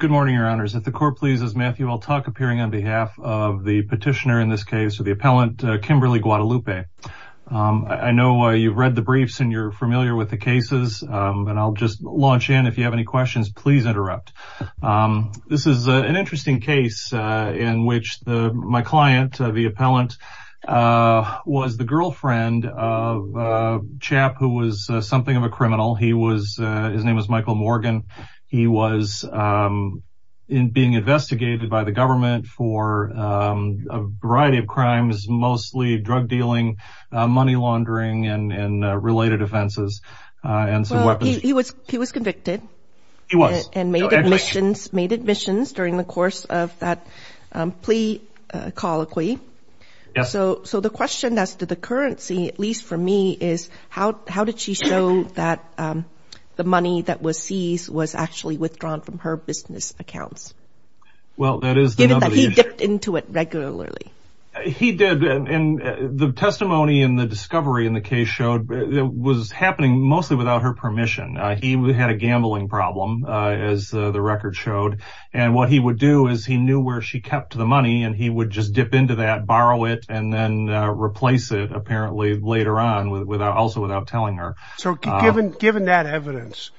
Good morning your honors. At the court please is Matthew L. Tuck appearing on behalf of the petitioner in this case or the appellant Kimberly Guadalupe. I know you've read the briefs and you're familiar with the cases and I'll just launch in if you have any questions please interrupt. This is an interesting case in which my client the appellant was the girlfriend of a chap who was something of a criminal he was his name was Michael Morgan he was in being investigated by the government for a variety of crimes mostly drug dealing money laundering and related offenses. He was he was convicted he was and made admissions made admissions during the course of that plea colloquy so so the question as to the currency at least for me is how how did she show that the money that was seized was actually withdrawn from her business accounts. Well that is that he dipped into it regularly. He did and the testimony and the discovery in the case showed that was happening mostly without her permission. He had a gambling problem as the record showed and what he would do is he knew where she kept the money and he would just dip into that borrow it and then replace it apparently later on without also without telling her. So given given that evidence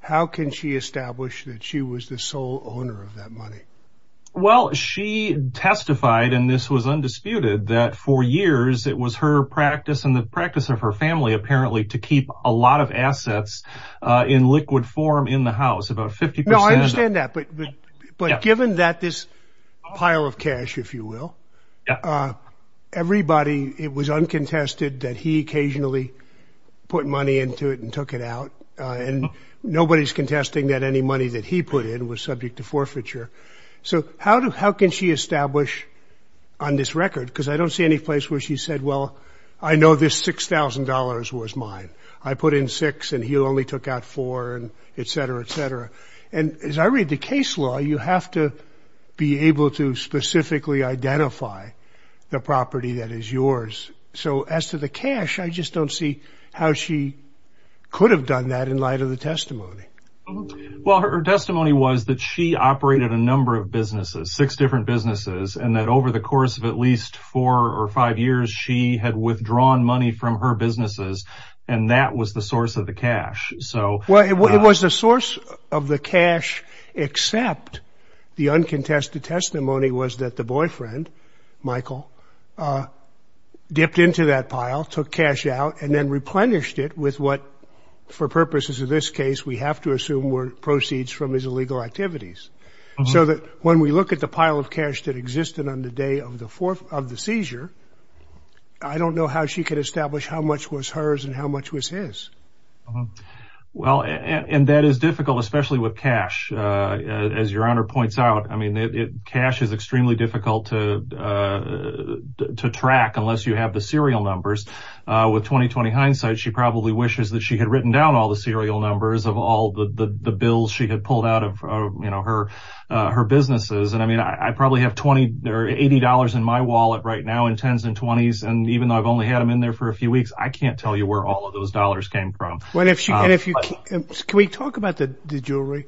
how can she establish that she was the sole owner of that money? Well she testified and this was undisputed that for years it was her practice and the practice of her family apparently to keep a lot of assets in liquid form in the house about 50 percent. I understand that but but given that this pile of cash if you will everybody it was uncontested that he occasionally put money into it and took it out and nobody's contesting that any money that he put in was subject to forfeiture. So how do how can she establish on this record because I don't see any place where she said well I know this $6,000 was mine I put in six and he only took out four and etc etc and as I read the testimony she said she did not have the ability to specifically identify the property that is yours so as to the cash I just don't see how she could have done that in light of the testimony. Well her testimony was that she operated a number of businesses six different businesses and that over the course of at least four or five years she had withdrawn money from her businesses and that was the source of the cash so. Well it was the source of the cash except the uncontested testimony was that the boyfriend Michael dipped into that pile took cash out and then replenished it with what for purposes of this case we have to assume were proceeds from his illegal activities so that when we look at the pile of cash that existed on the day of the fourth of the seizure I don't know how she could establish how much was hers and how much was his. Well and that is difficult especially with cash as your honor points out I mean it cash is extremely difficult to track unless you have the serial numbers with 20-20 hindsight she probably wishes that she had written down all the serial numbers of all the bills she had pulled out of you know her her businesses and I mean I probably have 20 there $80 in my wallet right now in tens and 20s and even though I've only had them in there for a few weeks I can't tell you where all of those dollars came from. Can we talk about the jewelry?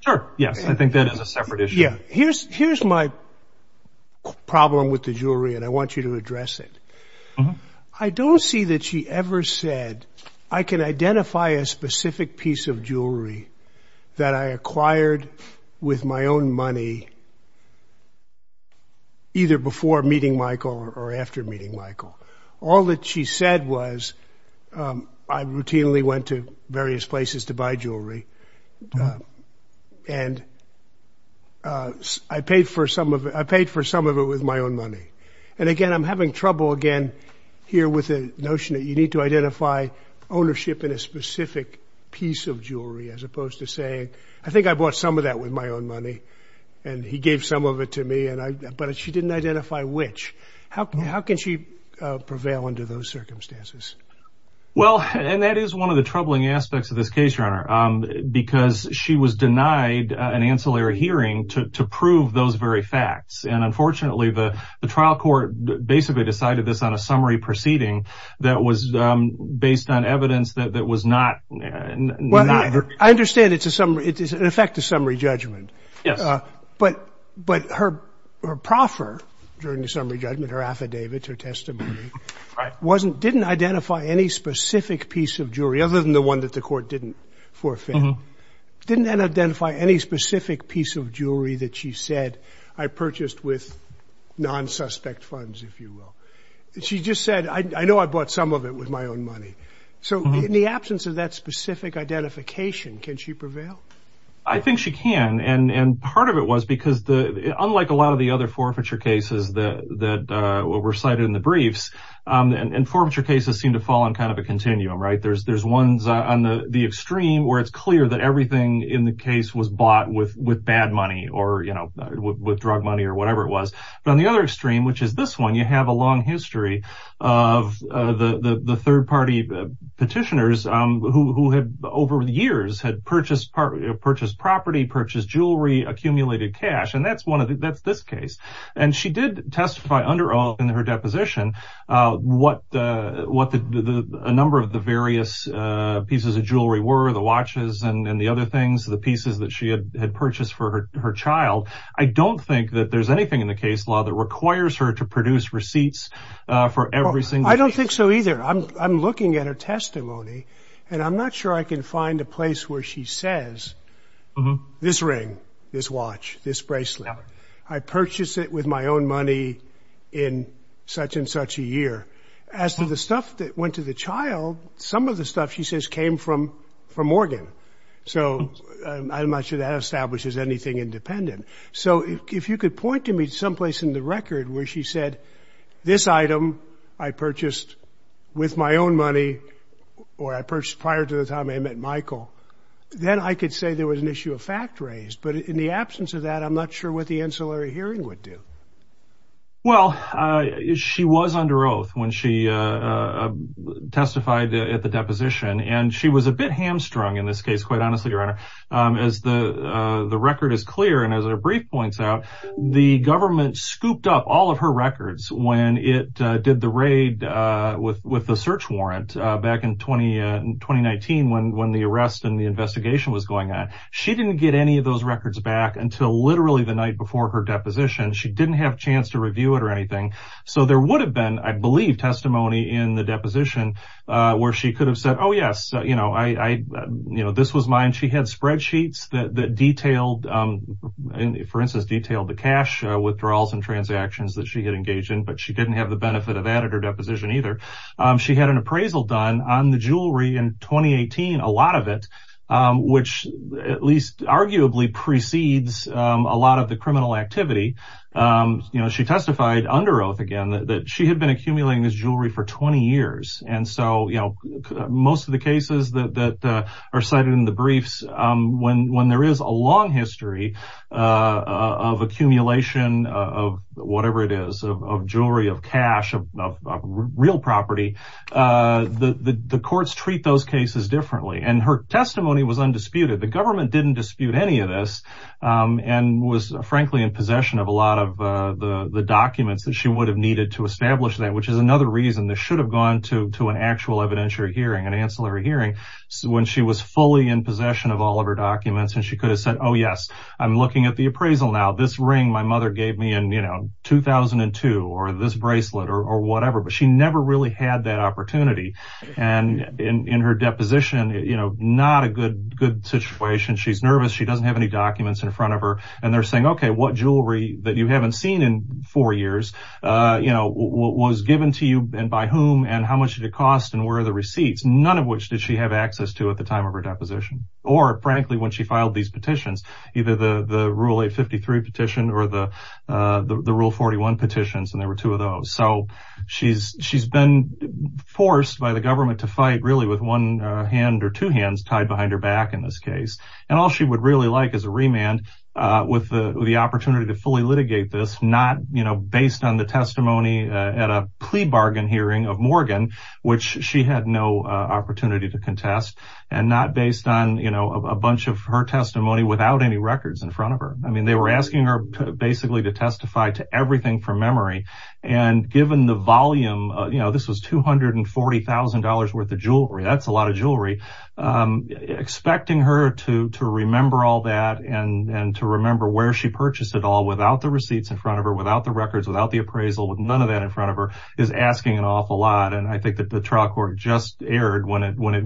Sure yes I think that is a separate issue. Here's my problem with the jewelry and I want you to address it. I don't see that she ever said I can identify a specific piece of jewelry that I acquired with my own money either before meeting Michael or after meeting Michael all that she said was I routinely went to various places to buy jewelry and I paid for some of it I paid for some of it with my own money and again I'm having trouble again here with a notion that you need to identify ownership in a specific piece of jewelry as opposed to saying I think I bought some of that with my own money and he gave some of it to me and I but she didn't identify which how can she prevail under those circumstances? Well and that is one of the troubling aspects of this case your honor because she was denied an ancillary hearing to prove those very facts and unfortunately the the trial court basically decided this on a summary proceeding that was based on evidence that was not I understand it's a summary it is an effective summary judgment yes but but her proffer during the summary judgment her affidavit her testimony wasn't didn't identify any specific piece of jewelry other than the one that the court didn't forfeit didn't identify any specific piece of jewelry that she said I purchased with non-suspect funds if you will she just said I know I bought some of it with my own money so in the absence of that specific identification can she prevail? I think she can and and part of it was because the unlike a lot of the other forfeiture cases that that were recited in the briefs and forfeiture cases seem to fall in kind of a continuum right there's there's ones on the the extreme where it's clear that everything in the case was bought with with bad money or you know with drug money or whatever it was but on the other extreme which is this one you have a long history of the the third-party petitioners who had over the years had purchased part of purchased property purchased jewelry accumulated cash and that's one of the that's this case and she did testify under all in her deposition what what the number of the various pieces of jewelry were the watches and and the other things the pieces that she had purchased for her child I don't think that there's anything in the case law that requires her to produce receipts for everything I don't think so either I'm looking at her testimony and I'm not sure I can find a place where she says this ring this watch this bracelet I purchased it with my own money in such-and-such a year as to the stuff that went to the child some of the stuff she says came from from Morgan so I'm not sure that establishes anything independent so if you could point to me someplace in the with my own money or I purchased prior to the time I met Michael then I could say there was an issue of fact raised but in the absence of that I'm not sure what the ancillary hearing would do well she was under oath when she testified at the deposition and she was a bit hamstrung in this case quite honestly your honor as the the record is clear and as a brief points out the government scooped up all of her records when it did the raid with with the search warrant back in 20 and 2019 when when the arrest and the investigation was going on she didn't get any of those records back until literally the night before her deposition she didn't have a chance to review it or anything so there would have been I believe testimony in the deposition where she could have said oh yes you know I you know this was mine she had spreadsheets that detailed and for instance detailed the cash withdrawals and transactions that she had engaged in but she didn't have the benefit of editor deposition either she had an appraisal done on the jewelry in 2018 a lot of it which at least arguably precedes a lot of the criminal activity you know she testified under oath again that she had been accumulating this jewelry for 20 years and so you know most of the cases that are cited in the briefs when when there is a long history of accumulation of whatever it is of jewelry of cash of real property the the courts treat those cases differently and her testimony was undisputed the government didn't dispute any of this and was frankly in possession of a lot of the the documents that she would have needed to establish that which is another reason this should have gone to to an actual evidentiary hearing an ancillary hearing when she was fully in possession of all of her documents and she could have said oh yes I'm looking at the appraisal now this ring my mother gave me and you know 2002 or this bracelet or whatever but she never really had that opportunity and in her deposition you know not a good good situation she's nervous she doesn't have any documents in front of her and they're saying okay what jewelry that you haven't seen in four years you know what was given to you and by whom and how much did it cost and where are the receipts none of which did she have access to at the time of her deposition or frankly when she filed these petitions either the the rule 853 petition or the the rule 41 petitions and there were two of those so she's she's been forced by the government to fight really with one hand or two hands tied behind her back in this case and all she would really like is a remand with the opportunity to fully litigate this not you know based on the testimony at a plea bargain hearing of Morgan which she had no opportunity to a bunch of her testimony without any records in front of her I mean they were asking her basically to testify to everything from memory and given the volume you know this was two hundred and forty thousand dollars worth of jewelry that's a lot of jewelry expecting her to to remember all that and and to remember where she purchased it all without the receipts in front of her without the records without the appraisal with none of that in front of her is asking an awful lot and I think that the trial court just erred when it when it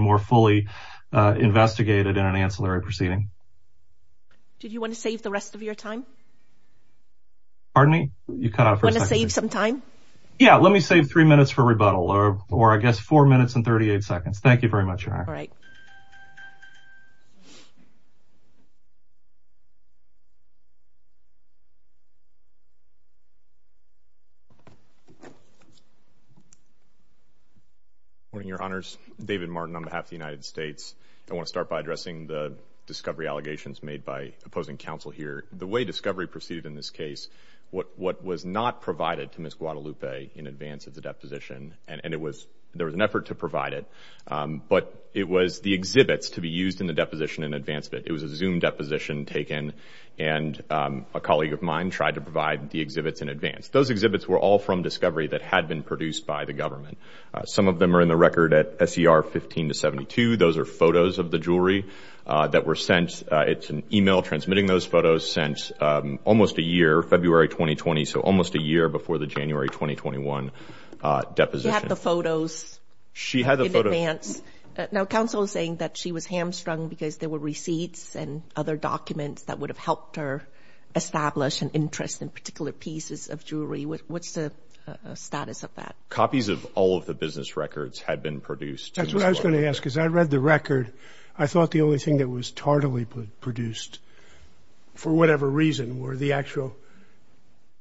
were fully investigated in an ancillary proceeding did you want to save the rest of your time pardon me you cut out for save some time yeah let me save three minutes for rebuttal or or I guess four minutes and 38 seconds thank you very much all right you morning your honors David Martin on behalf of the United States I want to start by addressing the discovery allegations made by opposing counsel here the way discovery proceeded in this case what what was not provided to Miss Guadalupe in advance of the deposition and and it was there was an effort to provide it but it was the exhibits to be used in the deposition in advance of it it was a zoom deposition taken and a colleague of mine tried to provide the exhibits in advance those exhibits were all from discovery that had been produced by the government some of them are in the record at SCR 15 to 72 those are photos of the jewelry that were sent it's an email transmitting those photos since almost a year February 2020 so almost a year before the January 2021 deposition the photos she had a photo dance now counsel is saying that she was hamstrung because there were receipts and other documents that would have helped her establish an interest in particular pieces of jewelry with what's the status of that copies of all of the business records had been produced that's what I was going to ask is I read the record I thought the only thing that was tardily produced for whatever reason were the actual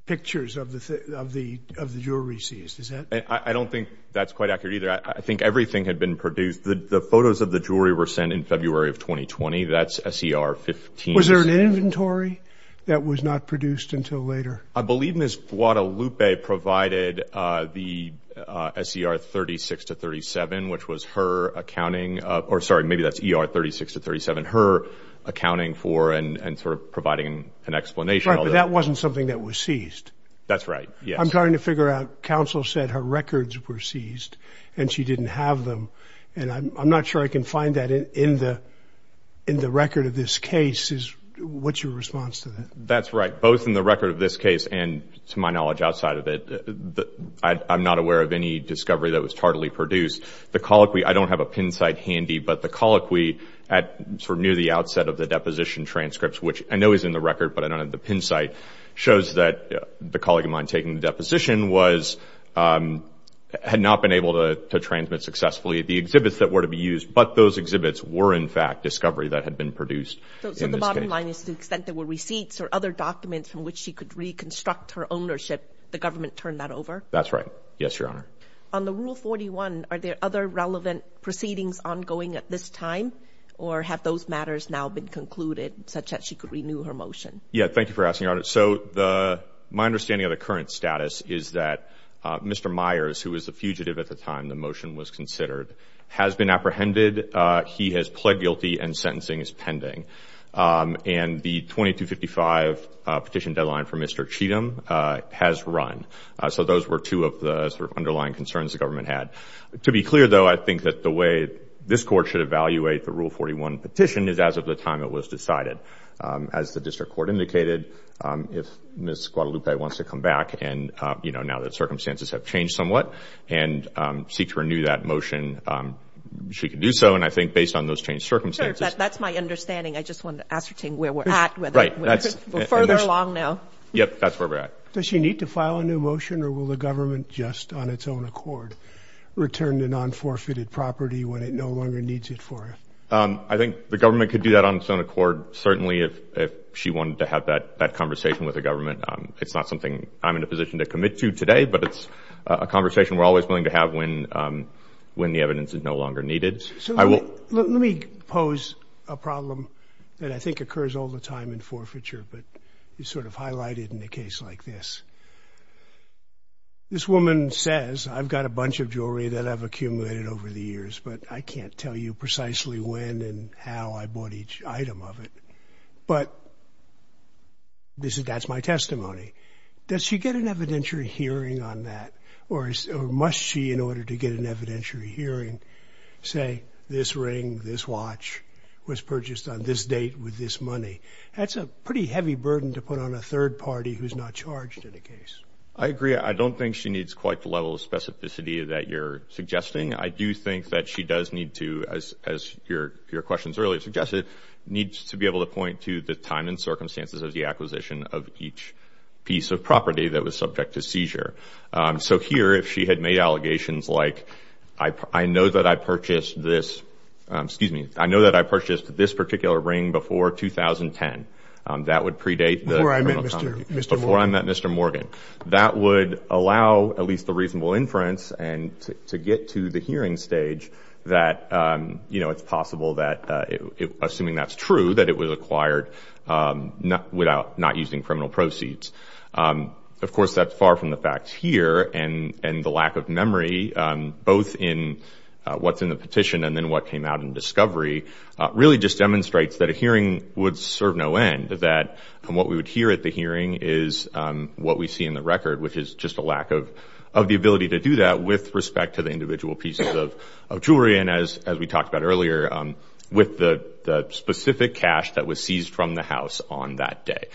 pictures of the of the of the jewelry seized is that I don't think that's quite accurate either I think everything had been produced the photos of the jewelry were sent in February of 2020 that's SCR 15 was there an inventory that was not produced until later I believe miss Guadalupe provided the SCR 36 to 37 which was her accounting or sorry maybe that's er 36 to 37 her accounting for and and sort of providing an explanation that wasn't something that was seized that's right yeah I'm trying to figure out counsel said her records were seized and she didn't have them and I'm not sure I can find that in the in the record of this case is what's your response to that that's right both in the record of this case and to my knowledge outside of it I'm not aware of any discovery that was tardily produced the colloquy I don't have a pin site handy but the colloquy at sort of near the outset of the deposition transcripts which I know is in the record but I don't have the pin site shows that the colleague of mine taking the deposition was had not been able to transmit successfully at the exhibits that were to be used but those exhibits were in fact discovery that had been produced there were receipts or other documents from which she could reconstruct her ownership the government turned that over that's right yes your honor on the rule 41 are there other relevant proceedings ongoing at this time or have those matters now been concluded such that she could renew her motion yeah thank you for asking on it so the my understanding of the current status is that mr. Myers who was the fugitive at the time the motion was considered has been apprehended he has pled guilty and sentencing is pending and the 2255 petition deadline for mr. Cheatham has run so those were two of the underlying concerns the government had to be clear though I think that the way this court should evaluate the rule 41 petition is as of the time it was you know now that circumstances have changed somewhat and seek to renew that motion she could do so and I think based on those change circumstances that's my understanding I just want to ascertain where we're at right that's further along now yep that's where we're at does she need to file a new motion or will the government just on its own accord return to non-forfeited property when it no longer needs it for it I think the government could do that on its own accord certainly if she wanted to have that that conversation with the today but it's a conversation we're always willing to have when when the evidence is no longer needed I will let me pose a problem that I think occurs all the time in forfeiture but you sort of highlighted in a case like this this woman says I've got a bunch of jewelry that I've accumulated over the years but I can't tell you precisely when and how I bought each item of it but this is that's my testimony does she get an evidentiary hearing on that or must she in order to get an evidentiary hearing say this ring this watch was purchased on this date with this money that's a pretty heavy burden to put on a third party who's not charged in a case I agree I don't think she needs quite the level of specificity that you're suggesting I do think that she does need to as your questions earlier suggested needs to be able to point to the time and circumstances of the acquisition of each piece of property that was subject to seizure so here if she had made allegations like I know that I purchased this excuse me I know that I purchased this particular ring before 2010 that would predate before I met mr. Morgan that would allow at least the reasonable inference and to get to the hearing stage that you know it's possible that assuming that's true that it was acquired not without not using criminal proceeds of course that's far from the facts here and and the lack of memory both in what's in the petition and then what came out in discovery really just demonstrates that a hearing would serve no end that and what we would hear at the hearing is what we see in the record which is just a lack of of the ability to do that with respect to the individual pieces of jewelry and as as we the specific cash that was seized from the house on that day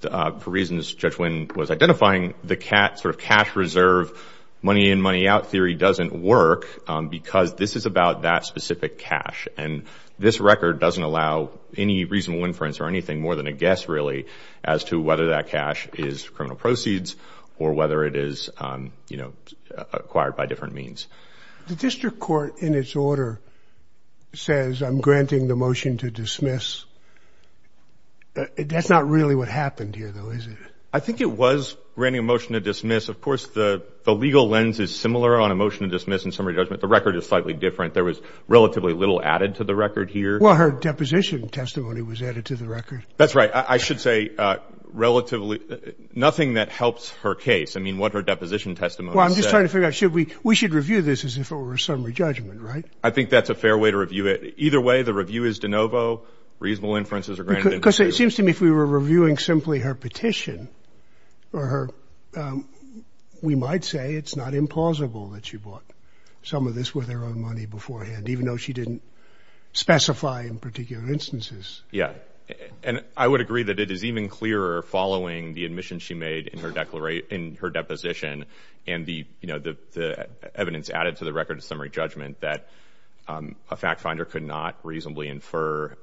for reasons judge when was identifying the cat sort of cash reserve money in money out theory doesn't work because this is about that specific cash and this record doesn't allow any reasonable inference or anything more than a guess really as to whether that cash is criminal proceeds or whether it is you know acquired by means the district court in its order says I'm granting the motion to dismiss that's not really what happened here though is it I think it was granting a motion to dismiss of course the the legal lens is similar on a motion to dismiss in summary judgment the record is slightly different there was relatively little added to the record here well her deposition testimony was added to the record that's right I should say relatively nothing that helps her case I mean what her deposition testimony I'm just trying to figure out should we we should review this as if it were a summary judgment right I think that's a fair way to review it either way the review is de novo reasonable inferences are granted because it seems to me if we were reviewing simply her petition or her we might say it's not implausible that she bought some of this with their own money beforehand even though she didn't specify in particular instances yeah and I would agree that it is even clearer following the admission she made in her declaration her deposition and the you know the the evidence added to the record of summary judgment that a fact finder could not reasonably infer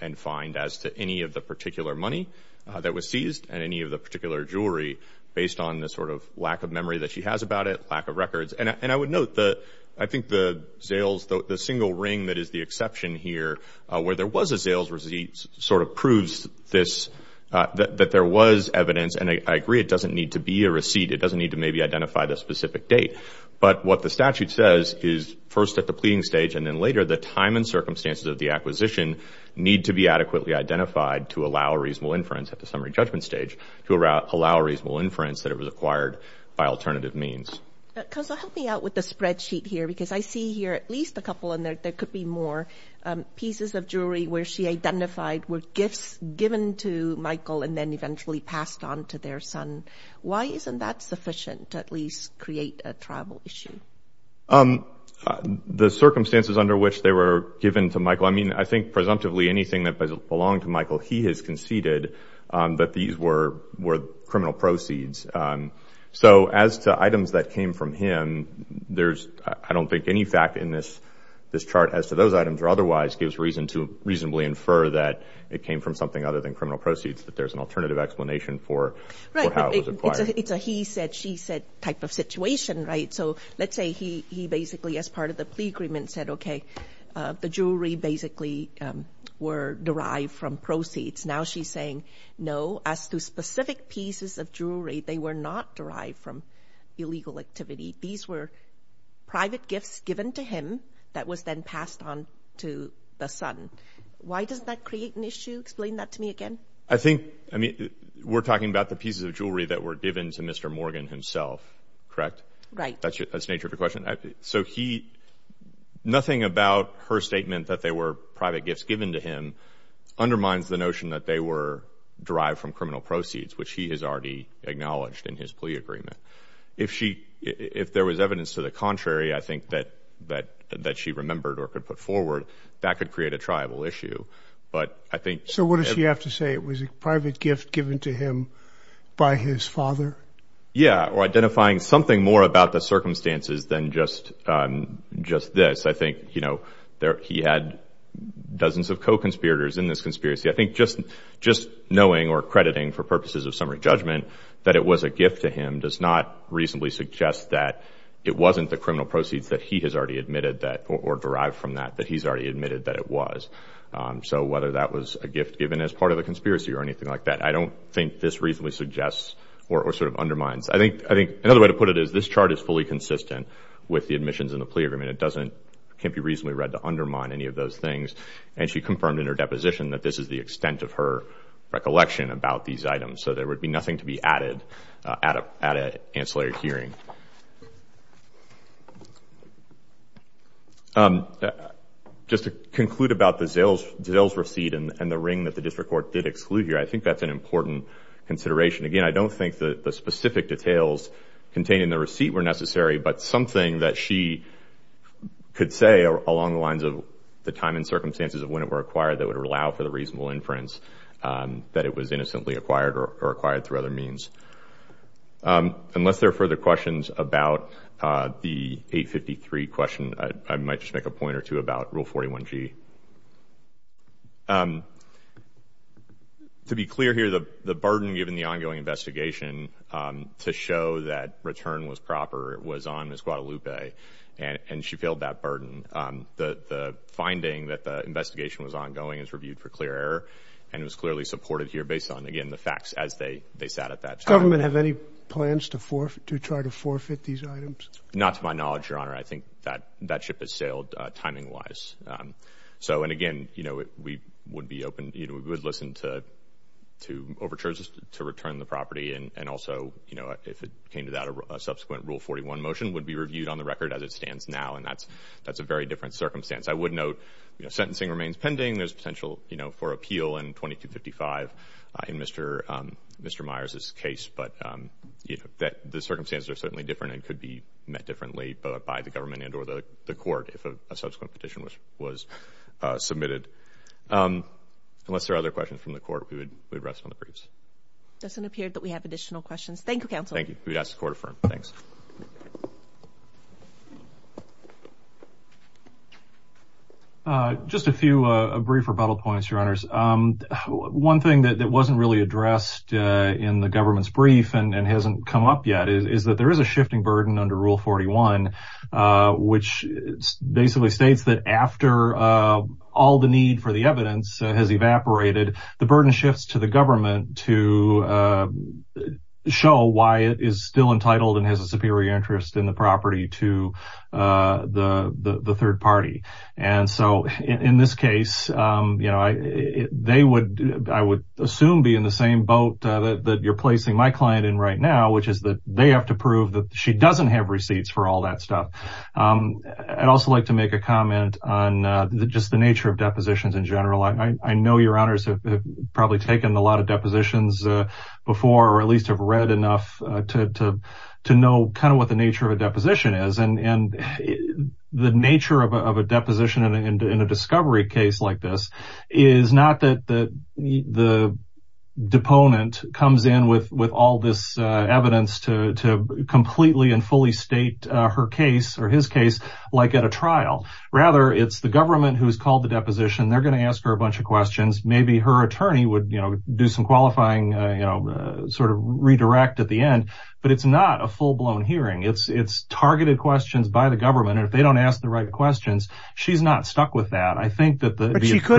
and find as to any of the particular money that was seized and any of the particular jewelry based on this sort of lack of memory that she has about it lack of records and I would note that I think the sales though the single ring that is the exception here where there was a sales receipt sort of I agree it doesn't need to be a receipt it doesn't need to maybe identify the specific date but what the statute says is first at the pleading stage and then later the time and circumstances of the acquisition need to be adequately identified to allow a reasonable inference at the summary judgment stage to allow reasonable inference that it was acquired by alternative means help me out with the spreadsheet here because I see here at least a couple in there there could be more pieces of jewelry where she identified were gifts given to their son why isn't that sufficient to at least create a tribal issue um the circumstances under which they were given to Michael I mean I think presumptively anything that belonged to Michael he has conceded that these were were criminal proceeds so as to items that came from him there's I don't think any fact in this this chart as to those items or otherwise gives reason to reasonably infer that it came from something other than criminal proceeds that there's an alternative explanation for it's a he said she said type of situation right so let's say he he basically as part of the plea agreement said okay the jewelry basically were derived from proceeds now she's saying no as to specific pieces of jewelry they were not derived from illegal activity these were private gifts given to him that was then passed on to the son why does that create an issue explain that to me again I think I mean we're talking about the pieces of jewelry that were given to mr. Morgan himself correct right that's it that's nature of your question so he nothing about her statement that they were private gifts given to him undermines the notion that they were derived from criminal proceeds which he has already acknowledged in his plea agreement if she if there was evidence to the contrary I think that that that she remembered or could put forward that could create a tribal issue but I think so what does he have to say it was a private gift given to him by his father yeah or identifying something more about the circumstances than just just this I think you know there he had dozens of co-conspirators in this conspiracy I think just just knowing or crediting for purposes of summary judgment that it was a gift to him does not reasonably suggest that it wasn't the criminal proceeds that he has already admitted that or derived from that that he's already admitted that it was so whether that was a gift given as part of a conspiracy or anything like that I don't think this reasonably suggests or sort of undermines I think I think another way to put it is this chart is fully consistent with the admissions in the plea agreement it doesn't can't be reasonably read to undermine any of those things and she confirmed in her deposition that this is the extent of her recollection about these items so there would be nothing to be added at a at a ancillary hearing um just to conclude about the sales sales receipt and the ring that the district court did exclude here I think that's an important consideration again I don't think that the specific details contained in the receipt were necessary but something that she could say along the lines of the time and circumstances of when it were acquired that would allow for the reasonable inference that it was innocently acquired or acquired through other means unless there are further questions about the 853 question I might just make a point or two about rule 41 G to be clear here the the burden given the ongoing investigation to show that return was proper it was on Miss Guadalupe and and she failed that burden the the finding that the investigation was ongoing is reviewed for clear error and it was clearly supported here based on again the facts as they they sat at that government have any plans to forfeit to try to forfeit these items not to my knowledge your honor I think that that ship has sailed timing wise so and again you know we would be open you know we would listen to to overtures to return the property and and also you know if it came to that a subsequent rule 41 motion would be reviewed on the record as it stands now and that's that's a very different circumstance I would note you know sentencing remains pending there's potential you know for appeal and 2255 in mr. mr. Myers's case but you know that the circumstances are certainly different and could be met differently but by the government and or the court if a subsequent petition which was submitted unless there are other questions from the court we would rest on the briefs doesn't appear that we have additional questions Thank You counsel thank you yes the court for thanks just a few brief rebuttal points your honors one thing that wasn't really addressed in the government's brief and hasn't come up yet is that there is a shifting burden under rule 41 which basically states that after all the need for the evidence has evaporated the burden shifts to the government to show why it is still entitled and has a superior interest in the property to the the third party and so in this case you know I they would I would assume be in the same boat that you're placing my client in right now which is that they have to prove that she doesn't have receipts for all that stuff I'd also like to make a comment on just the nature of depositions in general I know your honors have probably taken a lot of depositions before or at least have read enough to know kind of what the nature of a deposition is and the nature of a deposition in a discovery case like this is not that the deponent comes in with with all this evidence to completely and fully state her case or his case like at a trial rather it's the government who's called the deposition they're going to ask her a bunch of questions maybe her attorney would you know do some qualifying you know sort of redirect at the end but it's not a full-blown hearing it's it's targeted questions by the government if they don't ask the right questions she's not stuck with that I think that the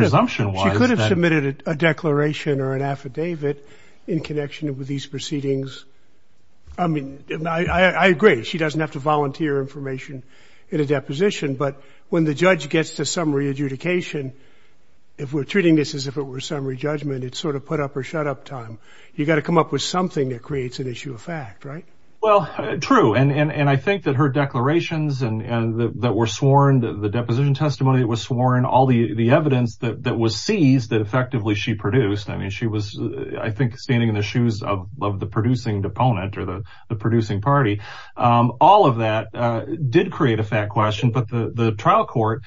assumption was submitted a declaration or an affidavit in connection with these proceedings I mean I agree she doesn't have to volunteer information in a deposition but when the judge gets to summary adjudication if we're treating this as if it were summary judgment it's sort of put up or shut up time you got to come up with something that creates an issue of fact right well true and and I think that her declarations and that were sworn the deposition testimony it was sworn all the the evidence that was seized that effectively she produced I mean she was I think standing in the shoes of the producing deponent or the the producing party all of that did create a fat question but the the trial court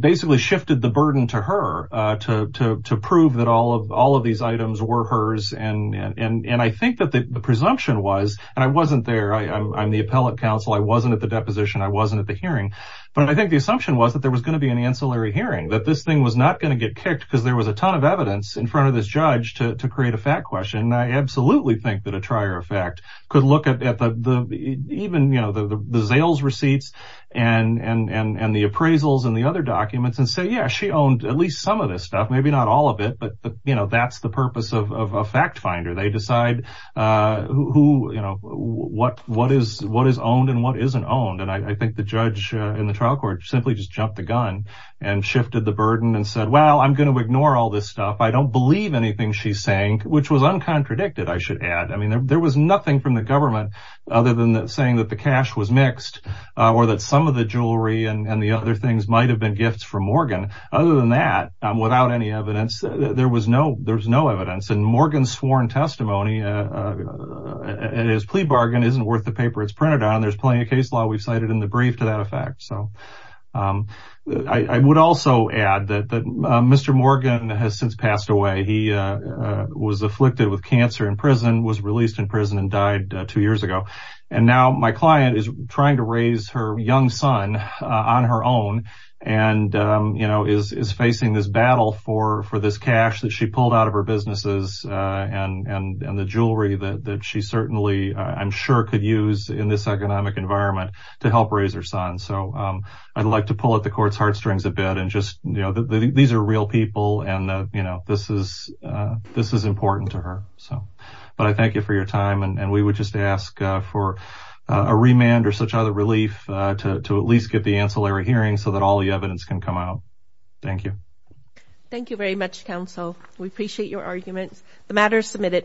basically shifted the burden to her to prove that all of all of these items were hers and and and I think that the presumption was and I wasn't there I'm the appellate counsel I wasn't at the deposition I wasn't at the hearing but I think the assumption was that there was going to be an ancillary hearing that this thing was not going to get kicked because there was a ton of evidence in front of this judge to create a fat question I absolutely think that a trier effect could look at the even you know the Zales receipts and and and the appraisals and the other documents and say yeah she owned at least some of this stuff maybe not all of it but but you know that's the purpose of a fact-finder they decide who you know what what is what is owned and what isn't owned and I think the judge in the trial court simply just jumped the gun and shifted the burden and said well I'm going to ignore all this stuff I don't believe anything she's saying which was uncontradicted I should add I mean there was nothing from the government other than that saying that the cash was mixed or that some of the jewelry and the other things might have been gifts from Morgan other than that without any evidence there was no there's no evidence and Morgan's sworn testimony and his plea bargain isn't worth the paper it's printed on there's plenty of case law we've cited in the brief to that effect so I would also add that that mr. Morgan has since passed away he was afflicted with cancer in prison was released in prison and died two years ago and now my client is trying to raise her young son on her own and you know is facing this battle for for this cash that she pulled out of her businesses and and and the jewelry that she certainly I'm sure could use in this economic environment to help raise her son so I'd like to pull at the court's heartstrings a bit and just you know these are real people and you know this is this is important to her so but I thank you for your time and we would just ask for a remand or such other relief to at least get the ancillary hearing so that all the evidence can come out thank you thank you very much counsel we appreciate your arguments the matter is submitted